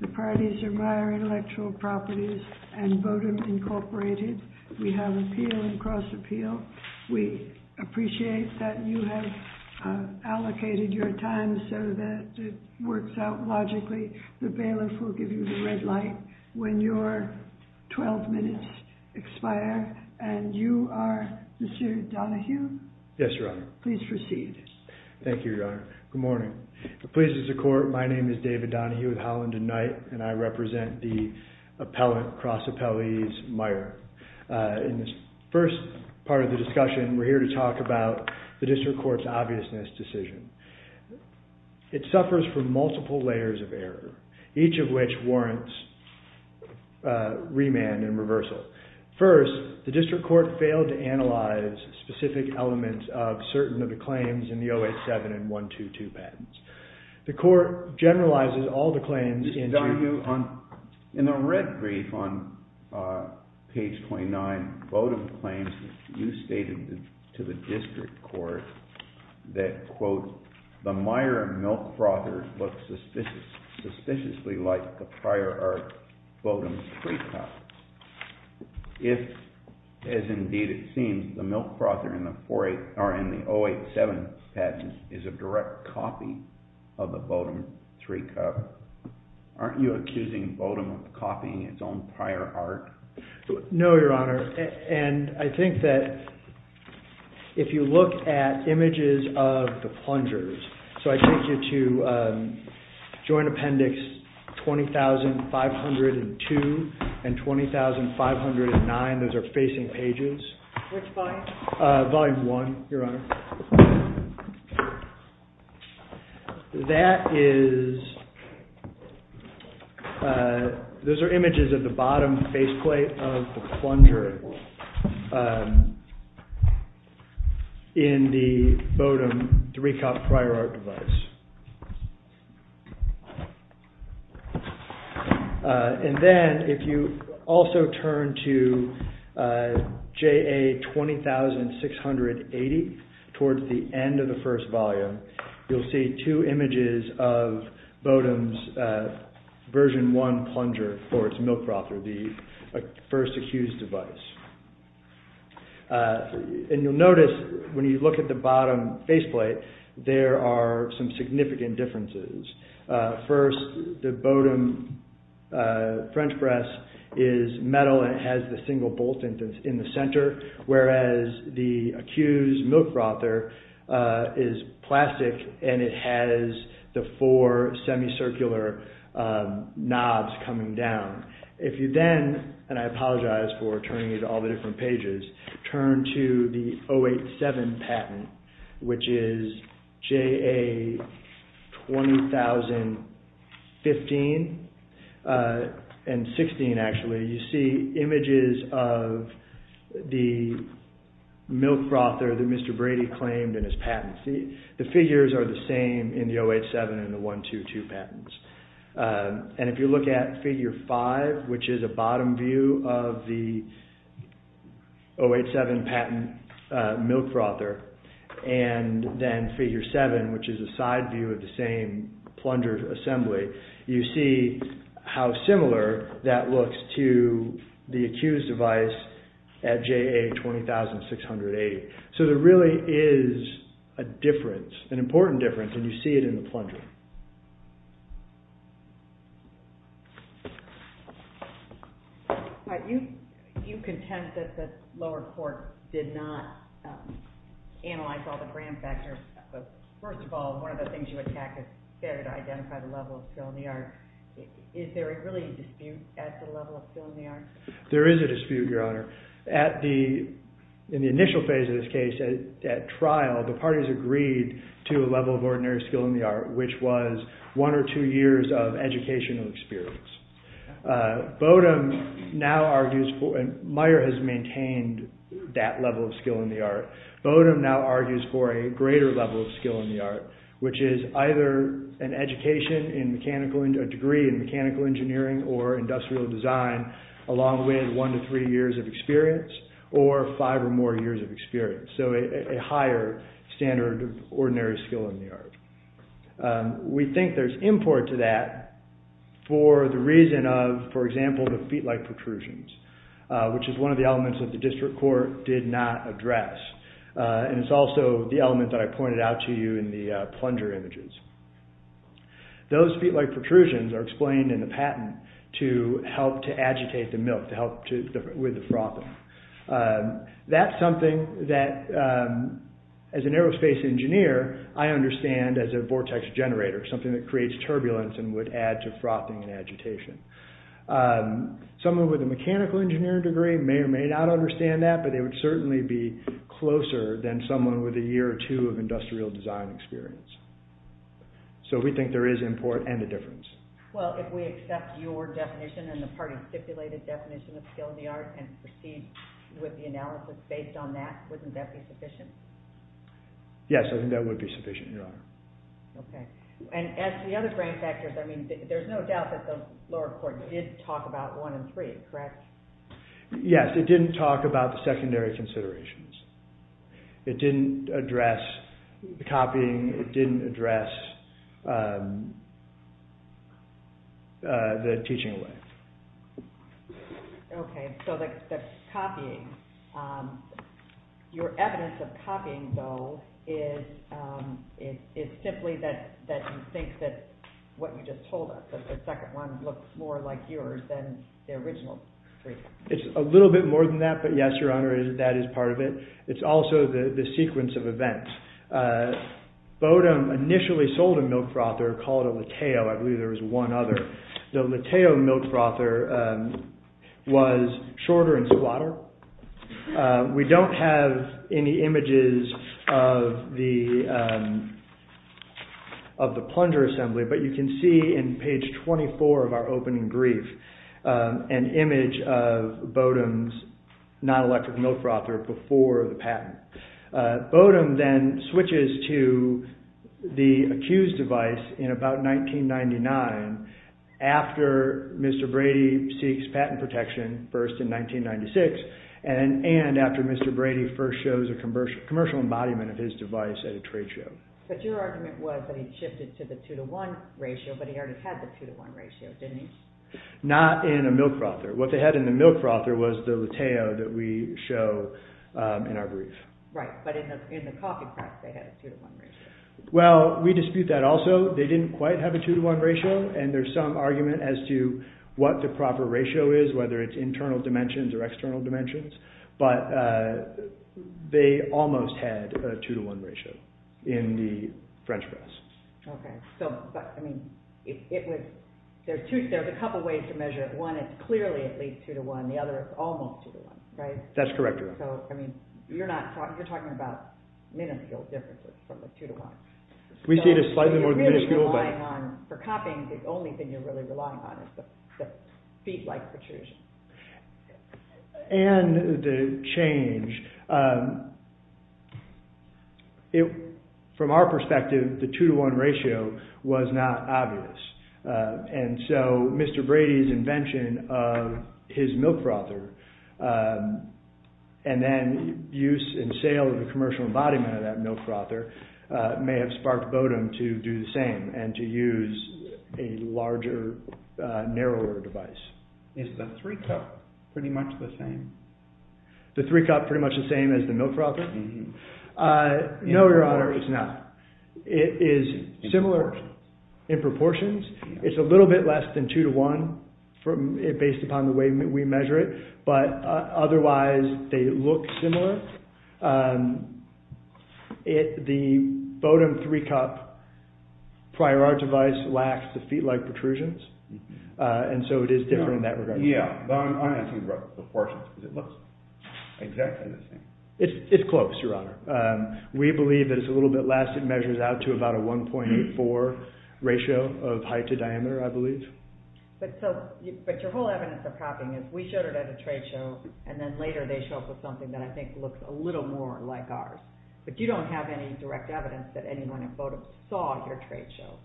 Bodum Intellectual Properties v. Bodum Intellectual Properties v. Bodum Intellectual Properties v. Bodum Intellectual Properties v. Bodum Intellectual Properties v. Bodum Intellectually Property Vivid Science Institute of Saint Andrew, Mississippi. and 141782, the parties are Meyer Intellectual Properties and Bodum Incorporated. We have appeal and cross appeal. We appreciate that you have allocated your time so that it works out logically. The bailiff will give you the red light when your 12 minutes expire. And you are Mr. Donohue? Yes, Your Honor. Please proceed. Thank you, Your Honor. Good morning. Pleased as a court, my name is David Donohue with Holland and Knight, and I represent the appellate cross appellees, Meyer. In this first part of the discussion, we're here to talk about the district court's obviousness decision. It suffers from multiple layers of error, each of which warrants remand and reversal. First, the district court failed to analyze specific elements of certain of the claims in the 087 and 122 patents. The court generalizes all the claims. Mr. Donohue, in the red brief on page 29, Bodum claims that you stated to the district court that, quote, the Meyer milk frother looks suspiciously like the prior art Bodum's three cups. If, as indeed it seems, the milk frother in the 087 patent is a direct copy of the Bodum three cup, aren't you accusing Bodum of copying its own prior art? No, Your Honor, and I think that if you look at images of the plungers, so I take you to joint appendix 20,502 and 20,509, those are facing pages. Which volume? Volume one, Your Honor. That is, those are images of the bottom faceplate of the plunger in the Bodum three cup prior art device. And then if you also turn to JA 20,680 towards the end of the first volume, you'll see two images of Bodum's version one plunger for its milk frother, the first accused device. And you'll notice when you look at the bottom faceplate, there are some significant differences. First, the Bodum French press is metal and it has the single bolt in the center, whereas the accused milk frother is plastic and it has the four semicircular knobs coming down. If you then, and I apologize for turning you to all the different pages, turn to the 087 patent, which is JA 20,015 and 16 actually, you see images of the milk frother that Mr. Brady claimed in his patent. The figures are the same in the 087 and the 122 patents. And if you look at figure five, which is a Bodum view of the 087 patent milk frother, and then figure seven, which is a side view of the same plunger assembly, you see how similar that looks to the accused device at JA 20,608. So there really is a difference, an important difference, and you see it in the plunger. All right. You contend that the lower court did not analyze all the brand factors. First of all, one of the things you attack is there to identify the level of skill in the art. Is there really a dispute at the level of skill in the art? There is a dispute, Your Honor. In the initial phase of this case, at trial, the parties agreed to a level of ordinary skill in the art, which was one or two years of educational experience. Bodum now argues for—Meyer has maintained that level of skill in the art. Bodum now argues for a greater level of skill in the art, which is either a degree in mechanical engineering or industrial design, along with one to three years of experience, or five or more years of experience. So a higher standard of ordinary skill in the art. We think there's import to that for the reason of, for example, the feet-like protrusions, which is one of the elements that the district court did not address. And it's also the element that I pointed out to you in the plunger images. Those feet-like protrusions are explained in the patent to help to agitate the milk, to help with the frothing. That's something that, as an aerospace engineer, I understand as a vortex generator, something that creates turbulence and would add to frothing and agitation. Someone with a mechanical engineering degree may or may not understand that, but they would certainly be closer than someone with a year or two of industrial design experience. So we think there is import and a difference. Well, if we accept your definition and the party's stipulated definition of skill in the art and proceed with the analysis based on that, wouldn't that be sufficient? Yes, I think that would be sufficient, Your Honor. Okay. And as to the other brain factors, I mean, there's no doubt that the lower court did talk about one and three, correct? Yes, it didn't talk about the secondary considerations. It didn't address the copying. It didn't address the teaching way. Okay. So the copying, your evidence of copying, though, is simply that you think that what you just told us, that the second one looks more like yours than the original three. It's a little bit more than that, but yes, Your Honor, that is part of it. It's also the sequence of events. Bodum initially sold a milk frother called a lateo. I believe there was one other. The lateo milk frother was shorter in squatter. We don't have any images of the plunger assembly, but you can see in page 24 of our opening brief an image of Bodum's non-electric milk frother before the patent. Bodum then switches to the accused device in about 1999 after Mr. Brady seeks patent protection first in 1996 and after Mr. Brady first shows a commercial embodiment of his device at a trade show. But your argument was that he shifted to the two-to-one ratio, but he already had the two-to-one ratio, didn't he? Not in a milk frother. What they had in the milk frother was the lateo that we show in our brief. Right, but in the coffee press they had a two-to-one ratio. Well, we dispute that also. They didn't quite have a two-to-one ratio, and there's some argument as to what the proper ratio is, whether it's internal dimensions or external dimensions, but they almost had a two-to-one ratio in the French press. There's a couple ways to measure it. One is clearly at least two-to-one, the other is almost two-to-one, right? That's correct. So, you're talking about minuscule differences from a two-to-one. We see it as slightly more than minuscule. For copying, the only thing you're really relying on is the feed-like protrusion. And the change, from our perspective, the two-to-one ratio was not obvious, and so Mr. Brady's invention of his milk frother and then use and sale of the commercial embodiment of that milk frother may have sparked Bodum to do the same and to use a larger, narrower device. Is the 3-cup pretty much the same? The 3-cup pretty much the same as the milk frother? No, Your Honor, it's not. It is similar in proportions. It's a little bit less than two-to-one based upon the way we measure it, but otherwise they look similar. The Bodum 3-cup prior art device lacks the feed-like protrusions, and so it is different in that regard. Yeah, I'm asking about the proportions because it looks exactly the same. It's close, Your Honor. We believe that it's a little bit less. It measures out to about a 1.84 ratio of height to diameter, I believe. But your whole evidence of copying is we showed it at a trade show, and then later they show us something that I think looks a little more like ours. But you don't have any direct evidence that anyone at Bodum saw at your trade show.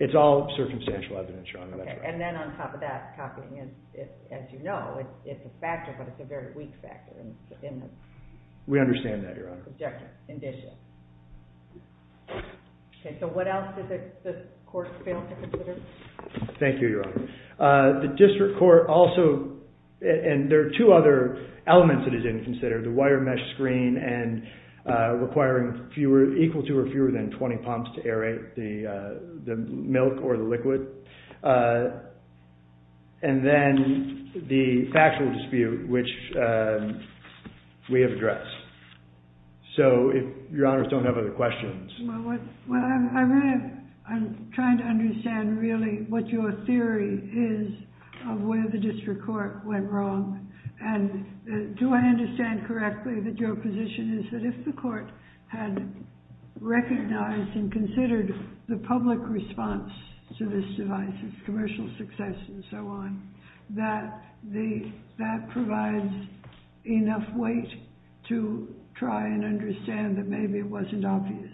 It's all circumstantial evidence, Your Honor. And then on top of that, copying is, as you know, it's a factor, but it's a very weak factor. We understand that, Your Honor. Objection. Indicious. Okay, so what else did the court fail to consider? Thank you, Your Honor. The district court also, and there are two other elements that it didn't consider, the wire mesh screen and requiring equal to or fewer than 20 pumps to aerate the milk or the liquid, and then the factual dispute, which we have addressed. So if Your Honors don't have other questions. Well, I'm trying to understand really what your theory is of where the district court went wrong, and do I understand correctly that your position is that if the court had recognized and considered the public response to this device, its commercial success and so on, that that provides enough weight to try and understand that maybe it wasn't obvious?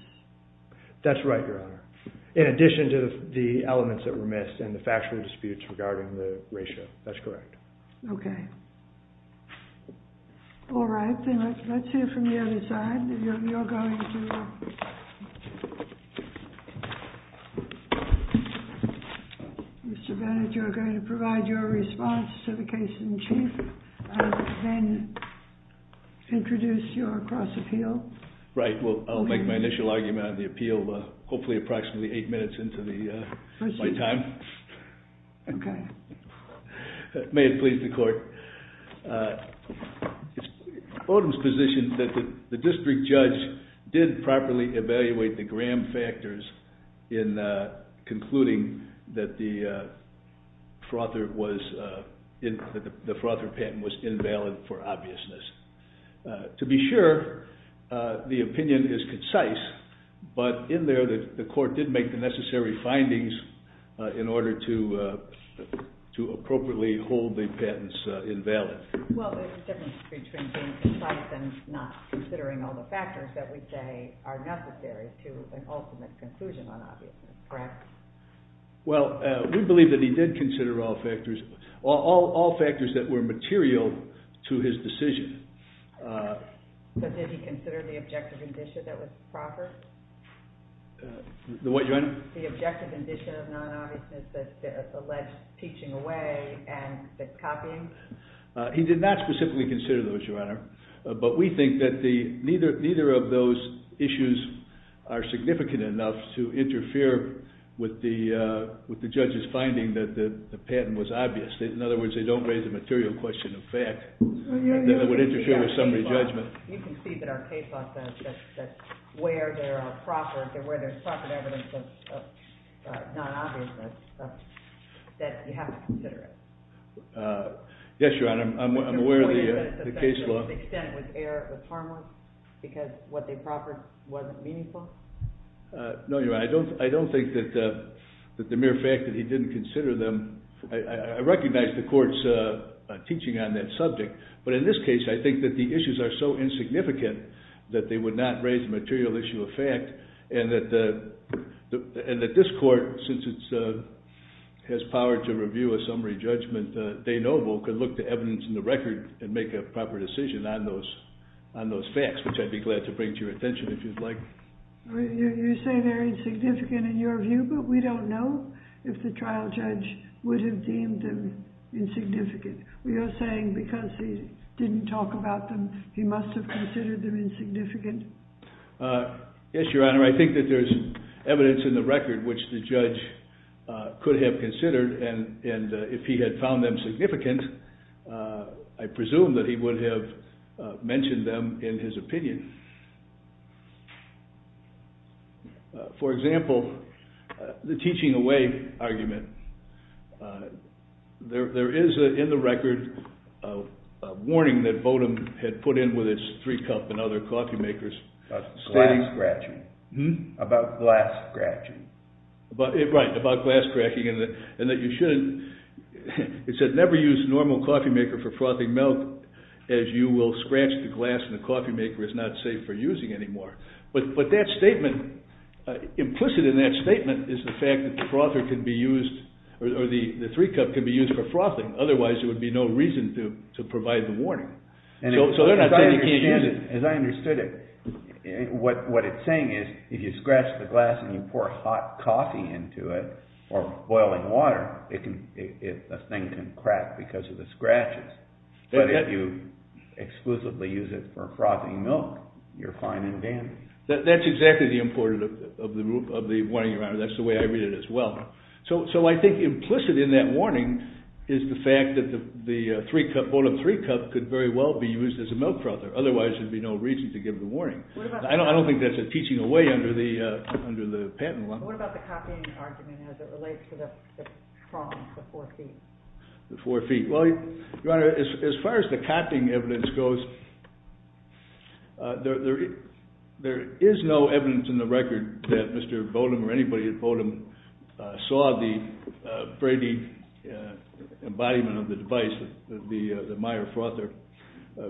That's right, Your Honor, in addition to the elements that were missed and the factual disputes regarding the ratio. That's correct. Okay. All right, then let's hear from the other side. Mr. Bennett, you're going to provide your response to the case in chief and then introduce your cross appeal. Right. Well, I'll make my initial argument on the appeal, hopefully approximately eight minutes into my time. Okay. May it please the court. Odom's position is that the district judge did properly evaluate the Graham factors in concluding that the Frother patent was invalid for obviousness. To be sure, the opinion is concise, but in there the court did make the necessary findings in order to appropriately hold the patents invalid. Well, there's a difference between being concise and not considering all the factors that we say are necessary to an ultimate conclusion on obviousness, correct? Well, we believe that he did consider all factors that were material to his decision. So did he consider the objective condition that was proper? The what, Your Honor? The objective condition of non-obviousness that's alleged teaching away and copying? He did not specifically consider those, Your Honor, but we think that neither of those issues are significant enough to interfere with the judge's finding that the patent was obvious. In other words, they don't raise a material question of fact that would interfere with somebody's judgment. You can see that our case law says that where there's proper evidence of non-obviousness, that you have to consider it. Yes, Your Honor. I'm aware of the case law. The extent was harmless because what they proffered wasn't meaningful? No, Your Honor. I don't think that the mere fact that he didn't consider them, I recognize the court's teaching on that subject, but in this case, I think that the issues are so insignificant that they would not raise the material issue of fact and that this court, since it has power to review a summary judgment, they know they could look the evidence in the record and make a proper decision on those facts, which I'd be glad to bring to your attention if you'd like. You say they're insignificant in your view, but we don't know if the trial judge would have deemed them insignificant. You're saying because he didn't talk about them, he must have considered them insignificant? Yes, Your Honor. I think that there's evidence in the record which the judge could have considered and if he had found them significant, I presume that he would have mentioned them in his opinion. For example, the teaching away argument. There is in the record a warning that Votem had put in with its three cup and other coffee makers. About glass scratching. Right, about glass scratching and that you shouldn't, it said never use normal coffee maker for frothing milk as you will scratch the glass and the coffee maker is not safe for using anymore. But that statement, implicit in that statement, is the fact that the three cup can be used for frothing, otherwise there would be no reason to provide the warning. As I understood it, what it's saying is if you scratch the glass and you pour hot coffee into it or boiling water, the thing can crack because of the scratches. But if you exclusively use it for frothing milk, you're fine and dandy. That's exactly the importance of the warning, Your Honor. And that's the way I read it as well. So I think implicit in that warning is the fact that the Votem three cup could very well be used as a milk frother, otherwise there would be no reason to give the warning. I don't think that's a teaching away under the patent one. What about the copying argument as it relates to the four feet? The four feet. Well, Your Honor, as far as the copying evidence goes, there is no evidence in the record that Mr. Votem or anybody at Votem saw the Brady embodiment of the device, the Meyer frother,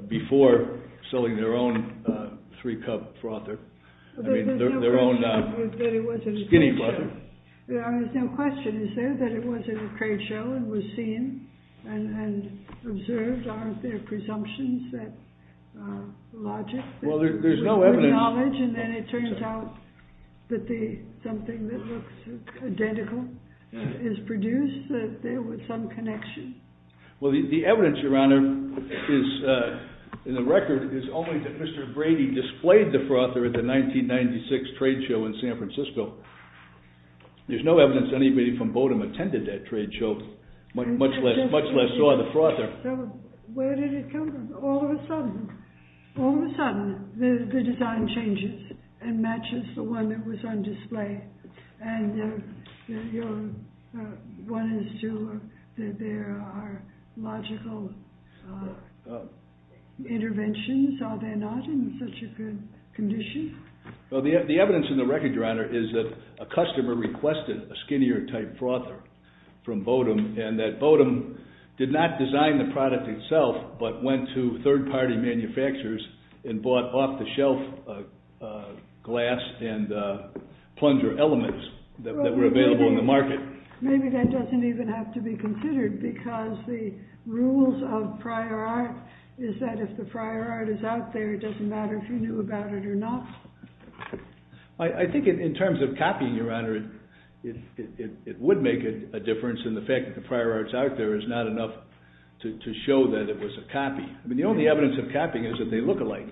before selling their own three cup frother. I mean, their own skinny frother. There's no question, is there, that it was in a trade show and was seen and observed? Aren't there presumptions that logic? Well, there's no evidence. And then it turns out that something that looks identical is produced, that there was some connection? Well, the evidence, Your Honor, in the record is only that Mr. Brady displayed the frother at the 1996 trade show in San Francisco. There's no evidence anybody from Votem attended that trade show, much less saw the frother. Where did it come from? All of a sudden, all of a sudden, the design changes and matches the one that was on display. And your one and two are that there are logical interventions, are there not, in such a good condition? Well, the evidence in the record, Your Honor, is that a customer requested a skinnier type frother from Votem, and that Votem did not design the product itself, but went to third-party manufacturers and bought off-the-shelf glass and plunger elements that were available in the market. Maybe that doesn't even have to be considered, because the rules of prior art is that if the prior art is out there, it doesn't matter if you knew about it or not. I think in terms of copying, Your Honor, it would make a difference, and the fact that the prior art's out there is not enough to show that it was a copy. The only evidence of copying is that they look alike.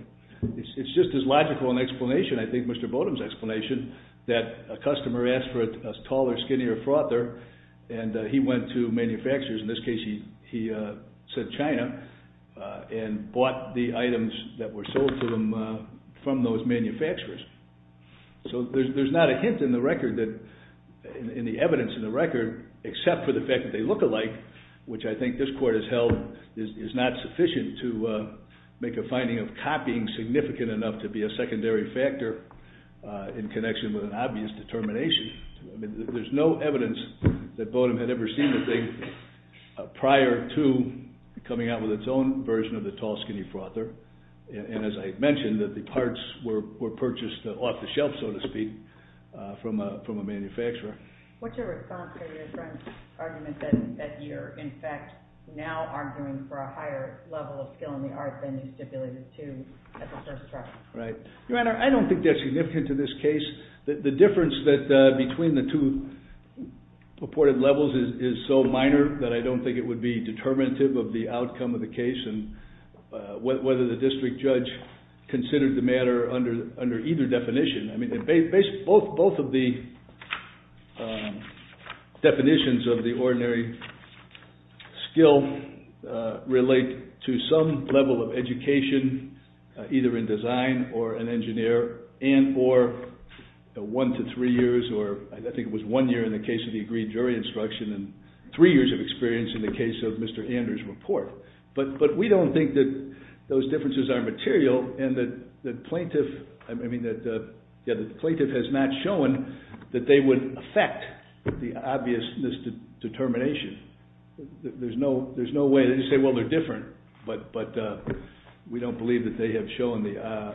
It's just as logical an explanation, I think, Mr. Votem's explanation, that a customer asked for a taller, skinnier frother, and he went to manufacturers, in this case he said China, and bought the items that were sold to them from those manufacturers. So there's not a hint in the record, in the evidence in the record, except for the fact that they look alike, which I think this Court has held is not sufficient to make a finding of copying significant enough to be a secondary factor in connection with an obvious determination. There's no evidence that Votem had ever seen the thing prior to coming out with its own version of the tall, skinny frother, and as I mentioned, the parts were purchased off the shelf, so to speak, from a manufacturer. What's your response to your friend's argument that you're, in fact, now arguing for a higher level of skill in the art than you stipulated to at the first trial? Your Honor, I don't think that's significant to this case. The difference between the two purported levels is so minor that I don't think it would be determinative of the outcome of the case and whether the district judge considered the matter under either definition. Both of the definitions of the ordinary skill relate to some level of education, either in design or an engineer, and for one to three years, or I think it was one year in the case of the agreed jury instruction and three years of experience in the case of Mr. Anders' report. But we don't think that those differences are material and that the plaintiff has not shown that they would affect the obviousness determination. There's no way to say, well, they're different, but we don't believe that they have shown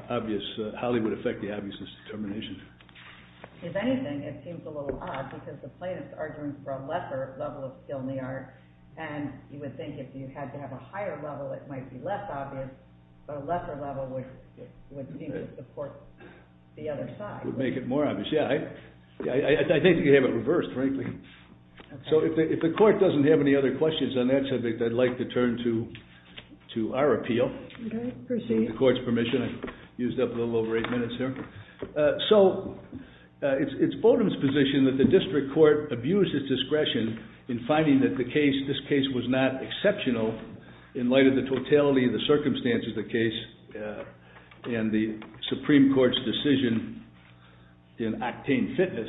how they would affect the obviousness determination. If anything, it seems a little odd because the plaintiff's argument for a lesser level of skill in the art and you would think if you had to have a higher level it might be less obvious, but a lesser level would seem to support the other side. It would make it more obvious, yeah. I think you have it reversed, frankly. So if the court doesn't have any other questions on that subject, I'd like to turn to our appeal. Okay, proceed. With the court's permission. I've used up a little over eight minutes here. So it's Fulton's position that the district court abused its discretion in finding that this case was not exceptional in light of the totality of the circumstances of the case and the Supreme Court's decision in Octane Fitness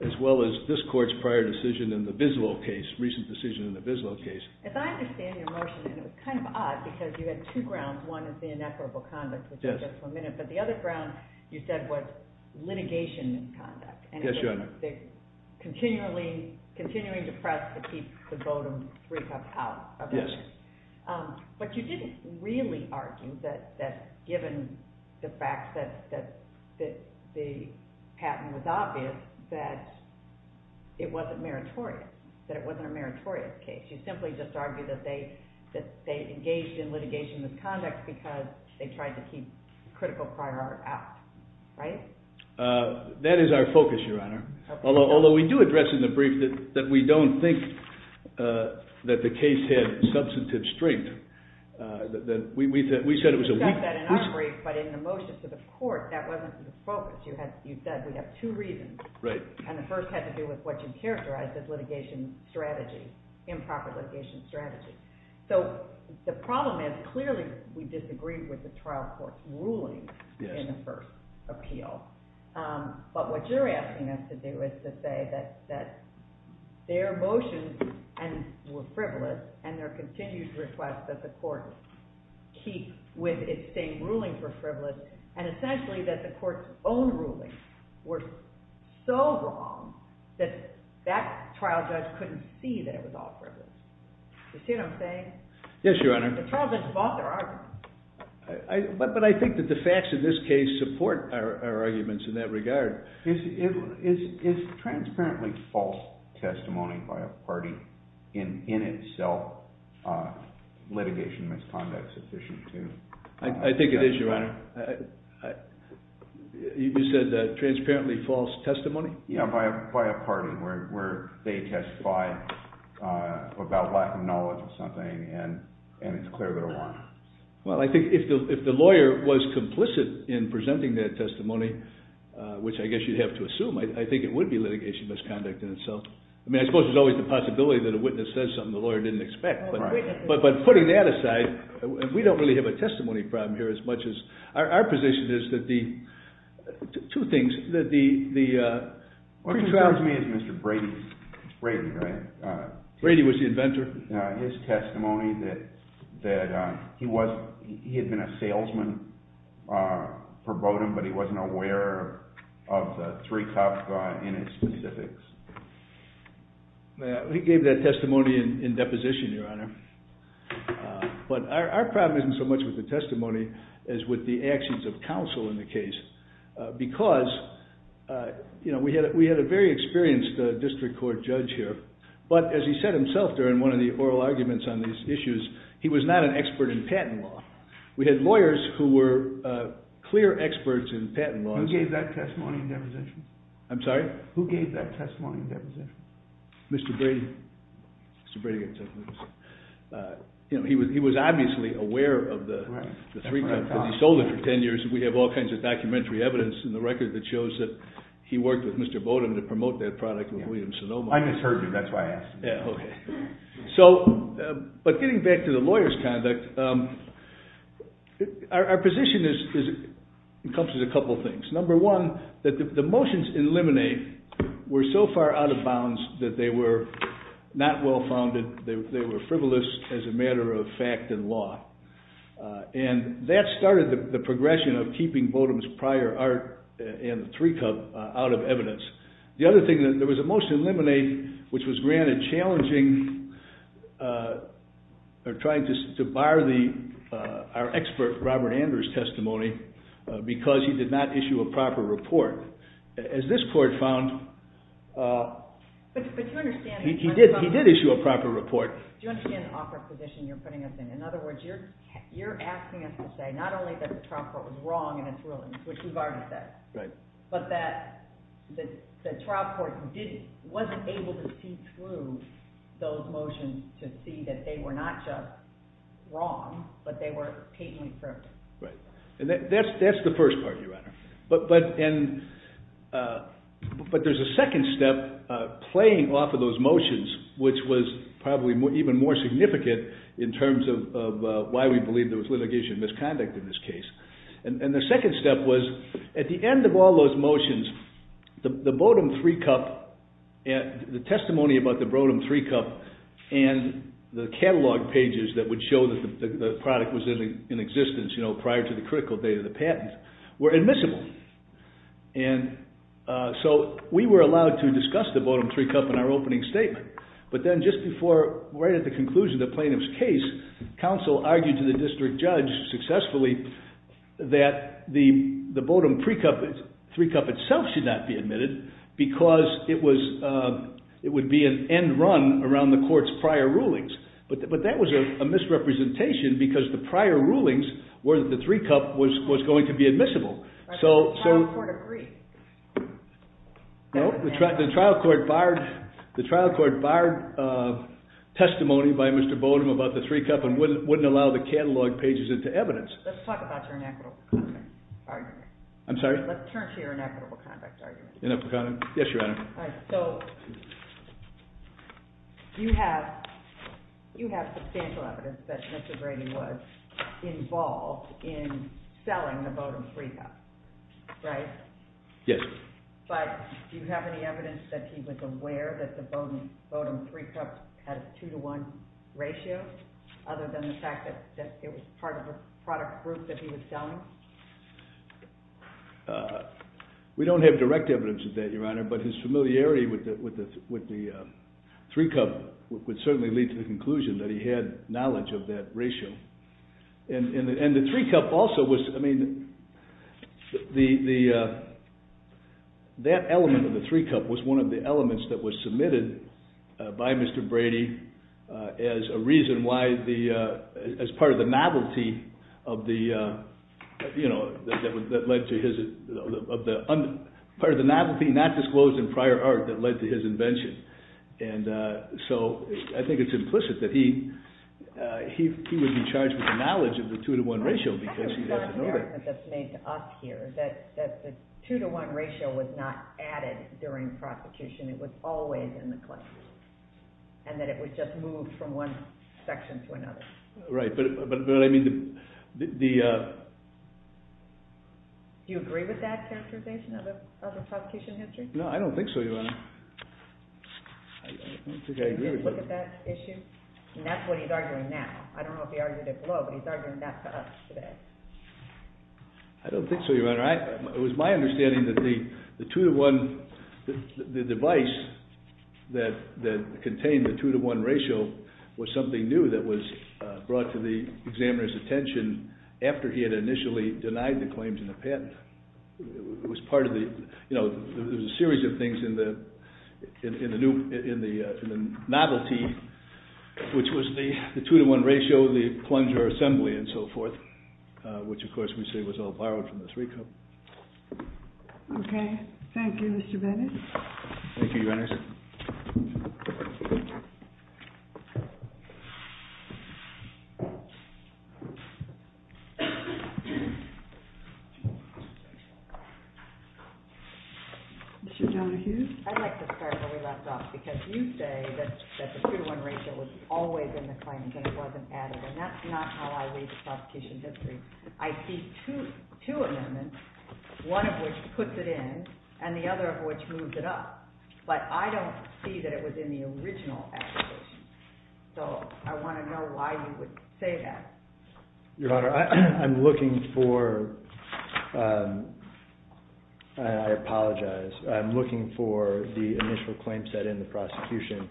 as well as this court's prior decision in the Bislow case, recent decision in the Bislow case. As I understand your motion, and it was kind of odd because you had two grounds. One is the ineffable conduct, which we'll get to in a minute, but the other ground you said was litigation misconduct. Yes, Your Honor. Continually depressed to keep the bodem three cups out of the case. Yes. But you didn't really argue that given the fact that the patent was obvious that it wasn't meritorious, that it wasn't a meritorious case. You simply just argued that they engaged in litigation misconduct because they tried to keep critical prior out, right? That is our focus, Your Honor. Although we do address in the brief that we don't think that the case had substantive strength. We said it was a weak case. We discussed that in our brief, but in the motion to the court, that wasn't the focus. You said we have two reasons, and the first had to do with what you characterized as litigation strategy, improper litigation strategy. The problem is clearly we disagreed with the trial court's ruling in the first appeal, but what you're asking us to do is to say that their motions were frivolous and their continued request that the court keep with its same ruling for frivolous and essentially that the court's own rulings were so wrong that that trial judge couldn't see that it was all frivolous. You see what I'm saying? Yes, Your Honor. The trial judge bought their argument. But I think that the facts of this case support our arguments in that regard. Is transparently false testimony by a party in itself litigation misconduct sufficient to... I think it is, Your Honor. You said transparently false testimony? Yes, by a party where they testified about lack of knowledge or something, and it's clear they're wrong. Well, I think if the lawyer was complicit in presenting that testimony, which I guess you'd have to assume, I think it would be litigation misconduct in itself. I mean, I suppose there's always the possibility that a witness says something the lawyer didn't expect, but putting that aside, we don't really have a testimony problem here as much as... Our position is that the... Two things, that the... What concerns me is Mr. Brady's... Brady, right? Brady was the inventor. His testimony that he had been a salesman per bodem, but he wasn't aware of the three-cup in his specifics. He gave that testimony in deposition, Your Honor. But our problem isn't so much with the testimony as with the actions of counsel in the case, because we had a very experienced district court judge here, but as he said himself during one of the oral arguments on these issues, he was not an expert in patent law. We had lawyers who were clear experts in patent law. Who gave that testimony in deposition? I'm sorry? Who gave that testimony in deposition? Mr. Brady. Mr. Brady gave that testimony in deposition. He was obviously aware of the three-cup, but he sold it for 10 years, and we have all kinds of documentary evidence in the record that shows that he worked with Mr. Bodem to promote that product with William Sonoma. I misheard you, that's why I asked. Yeah, okay. So, but getting back to the lawyer's conduct, our position encompasses a couple things. Number one, that the motions in limine were so far out of bounds that they were not well-founded. They were frivolous as a matter of fact and law, and that started the progression of keeping Bodem's prior art and the three-cup out of evidence. The other thing, there was a motion in limine, which was granted challenging, or trying to bar our expert, Robert Andrews' testimony, because he did not issue a proper report. As this court found, he did issue a proper report. Do you understand the awkward position you're putting us in? In other words, you're asking us to say not only that the trial court was wrong in its rulings, which we've already said, but that the trial court wasn't able to see through those motions to see that they were not just wrong, but they were patently perfect. Right, and that's the first part, Your Honor. But there's a second step playing off of those motions, which was probably even more significant in terms of why we believe there was litigation misconduct in this case. And the second step was, at the end of all those motions, the Bodem three-cup, the testimony about the Bodem three-cup, and the catalog pages that would show that the product was in existence prior to the critical date of the patent, were admissible. And so we were allowed to discuss the Bodem three-cup in our opening statement. But then just before, right at the conclusion of the plaintiff's case, counsel argued to the district judge successfully that the Bodem three-cup itself should not be admitted because it would be an end run around the court's prior rulings. But that was a misrepresentation because the prior rulings were that the three-cup was going to be admissible. Right, but the trial court agreed. No, the trial court barred testimony by Mr. Bodem about the three-cup and wouldn't allow the catalog pages into evidence. Let's talk about your inequitable conduct argument. I'm sorry? Let's turn to your inequitable conduct argument. Yes, Your Honor. So you have substantial evidence that Mr. Brady was involved in selling the Bodem three-cup, right? Yes. But do you have any evidence that he was aware that the Bodem three-cup had a two-to-one ratio other than the fact that it was part of a product group that he was selling? We don't have direct evidence of that, Your Honor, but his familiarity with the three-cup would certainly lead to the conclusion that he had knowledge of that ratio. And the three-cup also was, I mean, that element of the three-cup was one of the elements that was submitted by Mr. Brady as a reason why as part of the novelty not disclosed in prior art that led to his invention. And so I think it's implicit that he would be charged with the knowledge of the two-to-one ratio because he doesn't know that. That's an argument that's made to us here, that the two-to-one ratio was not added during prosecution. It was always in the claim and that it was just moved from one section to another. Right. But I mean the – Do you agree with that characterization of the prosecution history? No, I don't think so, Your Honor. I don't think I agree with that. Did you look at that issue? And that's what he's arguing now. I don't know if he argued it below, but he's arguing that to us today. I don't think so, Your Honor. It was my understanding that the two-to-one – the device that contained the two-to-one ratio was something new that was brought to the examiner's attention after he had initially denied the claims in the patent. It was part of the – there was a series of things in the novelty, which was the two-to-one ratio, the plunger assembly, and so forth, which, of course, we say was all borrowed from the three-cup. Okay. Thank you, Mr. Bennett. Thank you, Your Honor. Mr. Donohue. I'd like to start where we left off because you say that the two-to-one ratio was always in the claim and that it wasn't added, and that's not how I read the prosecution history. I see two amendments, one of which puts it in and the other of which moves it up, but I don't see that it was in the original application. So I want to know why you would say that. Your Honor, I'm looking for – I apologize. I'm looking for the initial claim set in the prosecution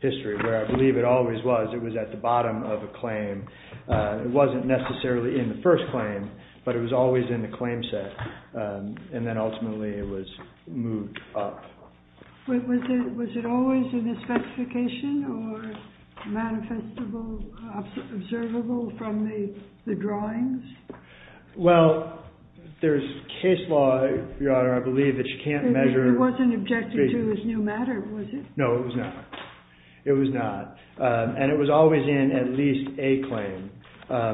history, where I believe it always was. It was at the bottom of a claim. It wasn't necessarily in the first claim, but it was always in the claim set, and then ultimately it was moved up. Was it always in the specification or manifestable, observable from the drawings? Well, there's case law, Your Honor, I believe that you can't measure – It wasn't objected to as new matter, was it? No, it was not. It was not. And it was always in at least a claim.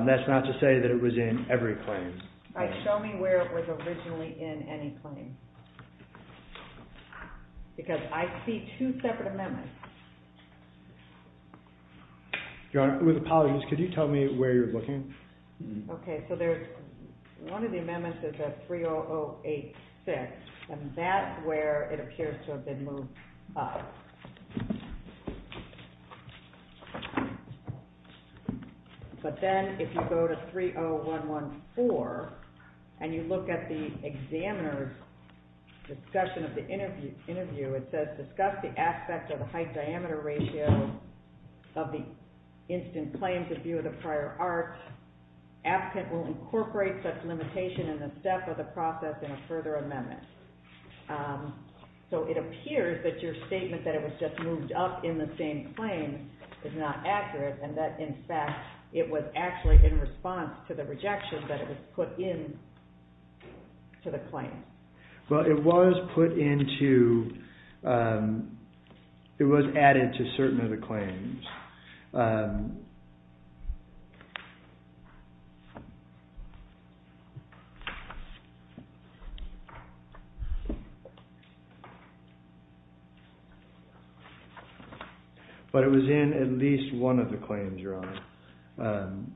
That's not to say that it was in every claim. All right, show me where it was originally in any claim, because I see two separate amendments. Your Honor, with apologies, could you tell me where you're looking? Okay, so there's – one of the amendments is at 30086, and that's where it appears to have been moved up. But then if you go to 30114 and you look at the examiner's discussion of the interview, it says, Discuss the aspect of the height-diameter ratio of the instant claim to view of the prior art. Applicant will incorporate such limitation in the step of the process in a further amendment. So it appears that your statement that it was just moved up in the same claim is not accurate and that, in fact, it was actually in response to the rejection that it was put into the claim. Well, it was put into – it was added to certain of the claims. But it was in at least one of the claims, Your Honor. Thank you.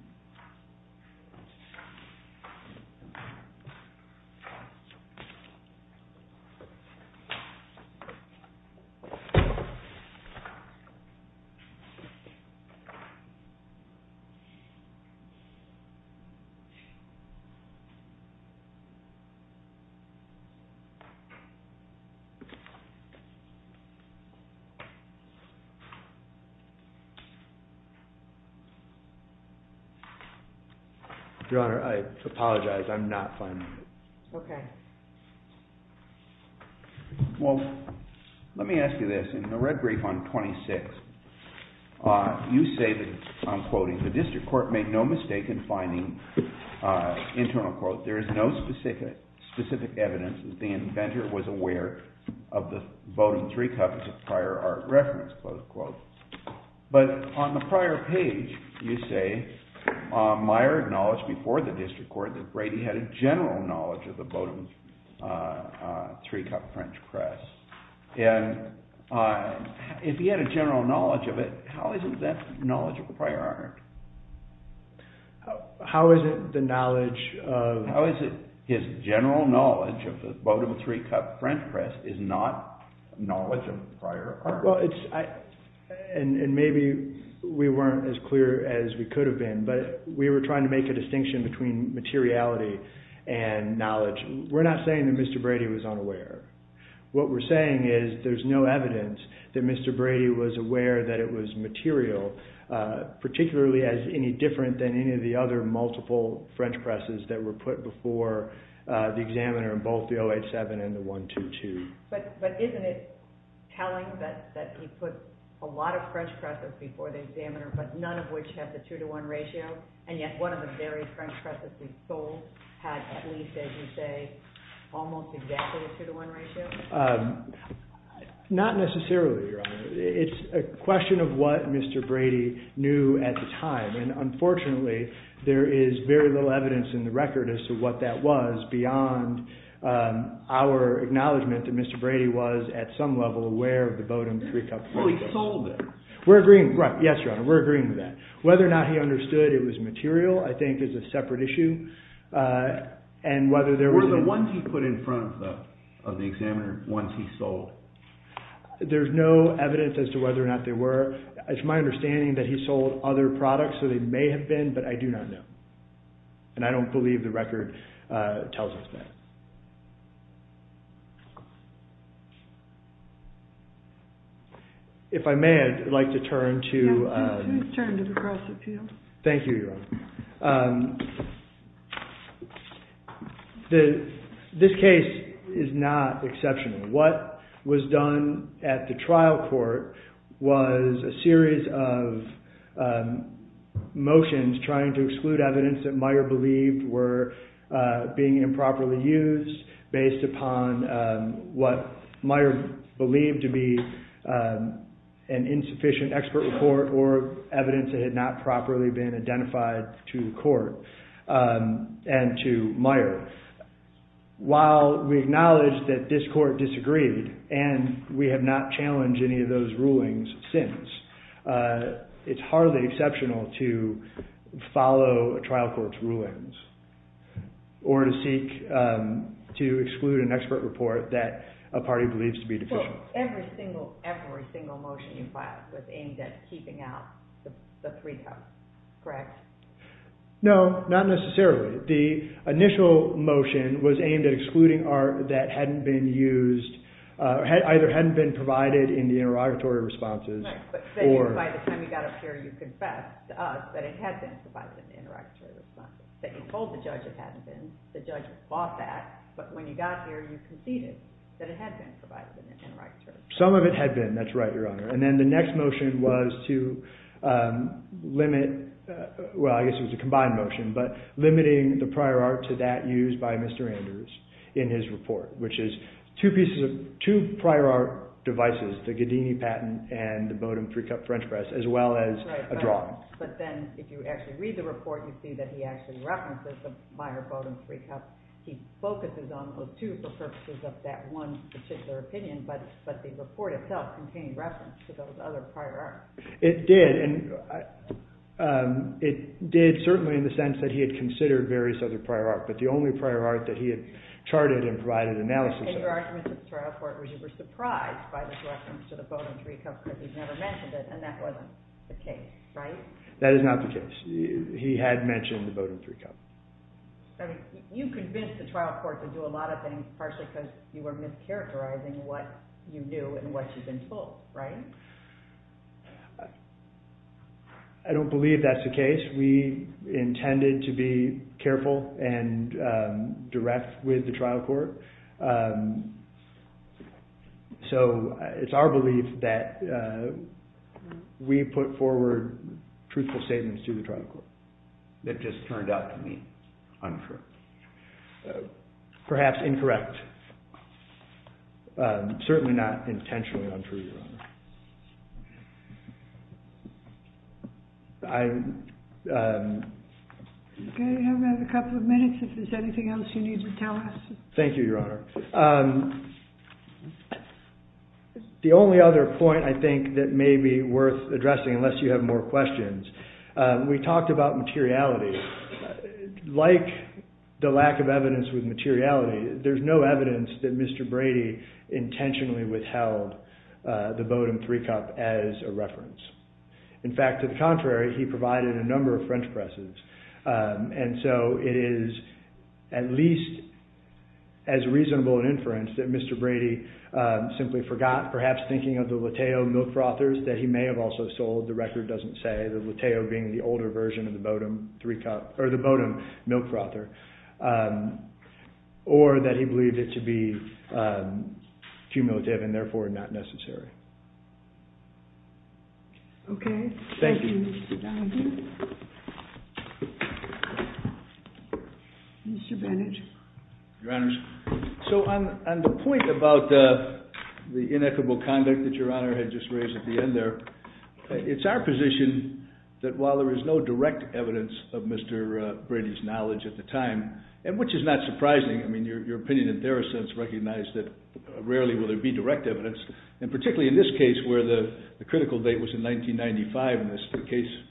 Your Honor, I apologize. I'm not finding it. Okay. Well, let me ask you this. In the red brief on 26, you say that, I'm quoting, The district court made no mistake in finding, internal quote, There is no specific evidence that the inventor was aware of the Bowdoin three copies of prior art reference, close quote. But on the prior page, you say, Meyer acknowledged before the district court that Brady had a general knowledge of the Bowdoin three-cup French press. And if he had a general knowledge of it, how is it that knowledge of prior art? How is it the knowledge of – How is it his general knowledge of the Bowdoin three-cup French press is not knowledge of prior art? Well, it's – and maybe we weren't as clear as we could have been, but we were trying to make a distinction between materiality and knowledge. We're not saying that Mr. Brady was unaware. What we're saying is there's no evidence that Mr. Brady was aware that it was material, particularly as any different than any of the other multiple French presses that were put before the examiner in both the 087 and the 122. But isn't it telling that he put a lot of French presses before the examiner, but none of which have the two-to-one ratio, and yet one of the very French presses he sold had at least, as you say, almost exactly the two-to-one ratio? Not necessarily, Your Honor. It's a question of what Mr. Brady knew at the time, and unfortunately there is very little evidence in the record as to what that was beyond our acknowledgement that Mr. Brady was at some level aware of the Bowdoin three-cup French press. Well, he sold it. We're agreeing – Yes, Your Honor, we're agreeing with that. Whether or not he understood it was material I think is a separate issue, and whether there was – Were the ones he put in front of the examiner ones he sold? There's no evidence as to whether or not they were. It's my understanding that he sold other products, so they may have been, but I do not know, and I don't believe the record tells us that. If I may, I'd like to turn to – Yes, please turn to the press appeal. Thank you, Your Honor. This case is not exceptional. What was done at the trial court was a series of motions trying to exclude evidence that Meyer believed were being improperly used based upon what Meyer believed to be an insufficient expert report or evidence that had not properly been identified to the court and to Meyer. While we acknowledge that this court disagreed and we have not challenged any of those rulings since, it's hardly exceptional to follow a trial court's rulings or to seek to exclude an expert report that a party believes to be deficient. Well, every single motion you filed was aimed at keeping out the three counts, correct? No, not necessarily. The initial motion was aimed at excluding art that hadn't been used – either hadn't been provided in the interrogatory responses. By the time you got up here, you confessed to us that it had been provided in the interrogatory responses, that you told the judge it hadn't been. The judge fought that. But when you got here, you conceded that it had been provided in the interrogatory. Some of it had been, that's right, Your Honor. And then the next motion was to limit – well, I guess it was a combined motion – but limiting the prior art to that used by Mr. Anders in his report, which is two prior art devices, the Ghedini patent and the Bodum three-cup French press, as well as a drawing. But then, if you actually read the report, you see that he actually references the Meyer Bodum three-cup. He focuses on those two for purposes of that one particular opinion, but the report itself contained reference to those other prior art. It did, and it did certainly in the sense that he had considered various other prior art, but the only prior art that he had charted and provided analysis of. And your argument in the trial court was you were surprised by this reference to the Bodum three-cup because he never mentioned it, and that wasn't the case, right? That is not the case. He had mentioned the Bodum three-cup. I mean, you convinced the trial court to do a lot of things, partially because you were mischaracterizing what you knew and what you'd been told, right? I don't believe that's the case. We intended to be careful and direct with the trial court. So, it's our belief that we put forward truthful statements to the trial court that just turned out to be untrue. Perhaps incorrect. Certainly not intentionally untrue, Your Honor. Okay, we have a couple of minutes if there's anything else you need to tell us. Thank you, Your Honor. The only other point I think that may be worth addressing unless you have more questions, we talked about materiality. Like the lack of evidence with materiality, there's no evidence that Mr. Brady intentionally withheld the Bodum three-cup as a reference. In fact, to the contrary, he provided a number of French presses, and so it is at least as reasonable an inference that Mr. Brady simply forgot, perhaps thinking of the Latteo milk frothers that he may have also sold, the record doesn't say, the Latteo being the older version of the Bodum three-cup, or the Bodum milk frother, or that he believed it to be cumulative and therefore not necessary. Okay. Thank you. Thank you, Mr. Gallagher. Mr. Bannage. Your Honors. So, on the point about the inequitable conduct that Your Honor had just raised at the end there, it's our position that while there is no direct evidence of Mr. Brady's knowledge at the time, and which is not surprising, I mean, your opinion in their sense recognized that rarely will there be direct evidence, and particularly in this case where the critical date was in 1995 and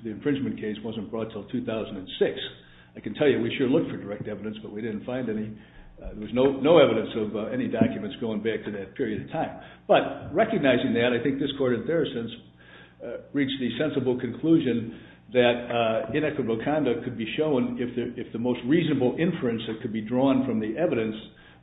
the infringement case wasn't brought until 2006. I can tell you we sure looked for direct evidence, but we didn't find any. There was no evidence of any documents going back to that period of time. But recognizing that, I think this Court in their sense reached the sensible conclusion that inequitable conduct could be shown if the most reasonable inference that could be drawn from the evidence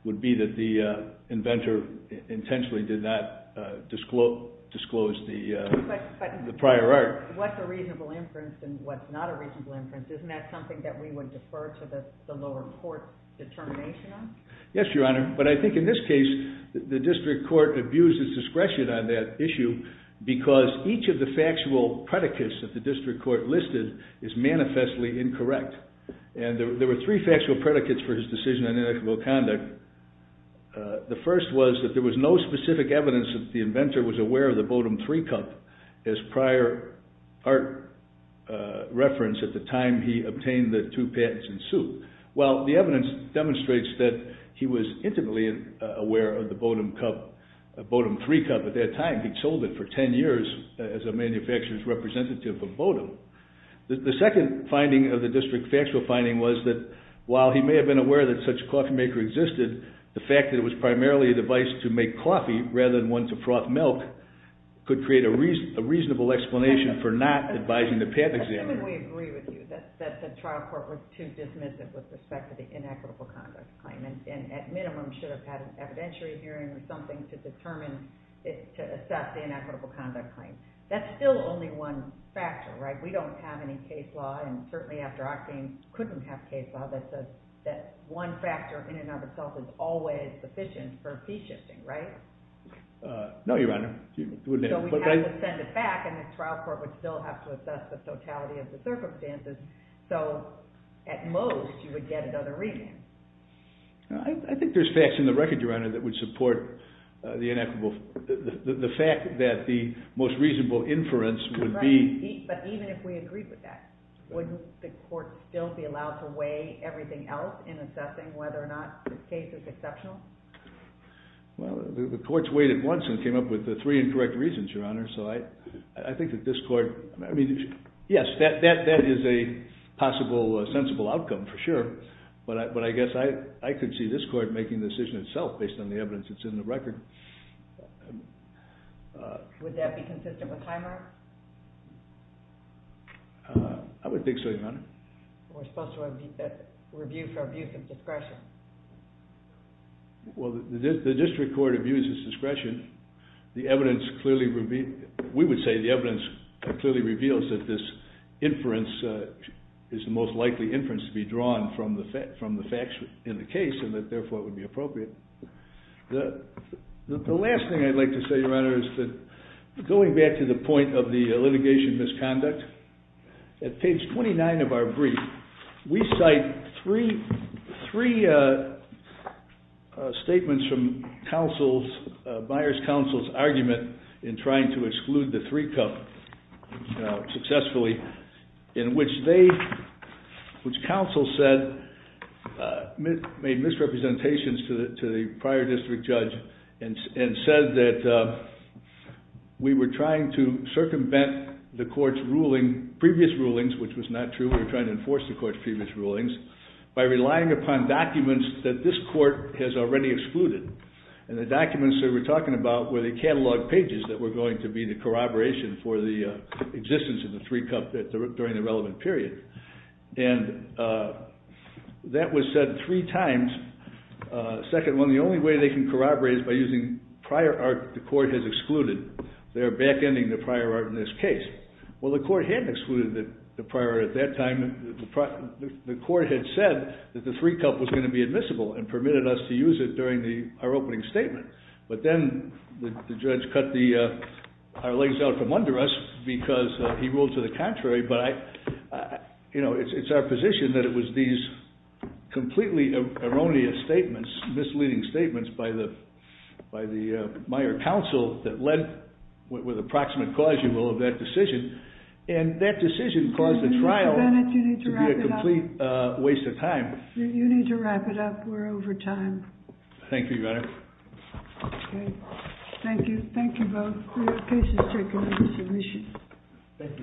would be that the inventor intentionally did not disclose the prior art. But what's a reasonable inference and what's not a reasonable inference, isn't that something that we would defer to the lower court's determination on? Yes, Your Honor. But I think in this case, the district court abused its discretion on that issue because each of the factual predicates that the district court listed is manifestly incorrect. And there were three factual predicates for his decision on inequitable conduct. The first was that there was no specific evidence that the inventor was aware of the Bodum 3 cup as prior art reference at the time he obtained the two patents in suit. Well, the evidence demonstrates that he was intimately aware of the Bodum 3 cup at that time. He'd sold it for 10 years as a manufacturer's representative of Bodum. The second finding of the district factual finding was that while he may have been aware that such a coffee maker existed, the fact that it was primarily a device to make coffee rather than one to froth milk could create a reasonable explanation for not advising the patent examiner. Assuming we agree with you that the trial court was too dismissive with respect to the inequitable conduct claim and at minimum should have had an evidentiary hearing or something to determine, to assess the inequitable conduct claim. That's still only one factor, right? We don't have any case law and certainly after Octane couldn't have case law that says that one factor in and of itself is always sufficient for P shifting, right? No, Your Honor. So we have to send it back and the trial court would still have to assess the totality of the circumstances. So at most you would get another reading. I think there's facts in the record, Your Honor, that would support the fact that the most reasonable inference would be... Right, but even if we agreed with that, would the court still be allowed to weigh everything else in assessing whether or not this case is exceptional? Well, the courts weighed it once and came up with the three incorrect reasons, Your Honor. So I think that this court... Yes, that is a possible sensible outcome for sure, but I guess I could see this court making the decision itself based on the evidence that's in the record. Would that be consistent with Hymer? I would think so, Your Honor. We're supposed to review for abuse of discretion. Well, the district court abuses discretion. The evidence clearly reveals... We would say the evidence clearly reveals that this inference is the most likely inference to be drawn from the facts in the case and that, therefore, it would be appropriate. The last thing I'd like to say, Your Honor, is that going back to the point of the litigation misconduct, at page 29 of our brief, we cite three statements from Byers' counsel's argument in trying to exclude the three-cup successfully in which they, which counsel said, made misrepresentations to the prior district judge and said that we were trying to circumvent the court's ruling, previous rulings, which was not true. We were trying to enforce the court's previous rulings by relying upon documents that this court has already excluded. And the documents they were talking about were the catalog pages that were going to be the corroboration for the existence of the three-cup during the relevant period. And that was said three times. Second one, the only way they can corroborate is by using prior art the court has excluded. They are back-ending the prior art in this case. Well, the court had excluded the prior art at that time. The court had said that the three-cup was going to be admissible and permitted us to use it during our opening statement. But then the judge cut our legs out from under us because he ruled to the contrary. But, you know, it's our position that it was these completely erroneous statements, misleading statements by the mayor counsel that led, with approximate cause, you will, of that decision. And that decision caused the trial to be a complete waste of time. You need to wrap it up. We're over time. Thank you, Your Honor. Okay. Thank you. Thank you both. The case is taken into submission.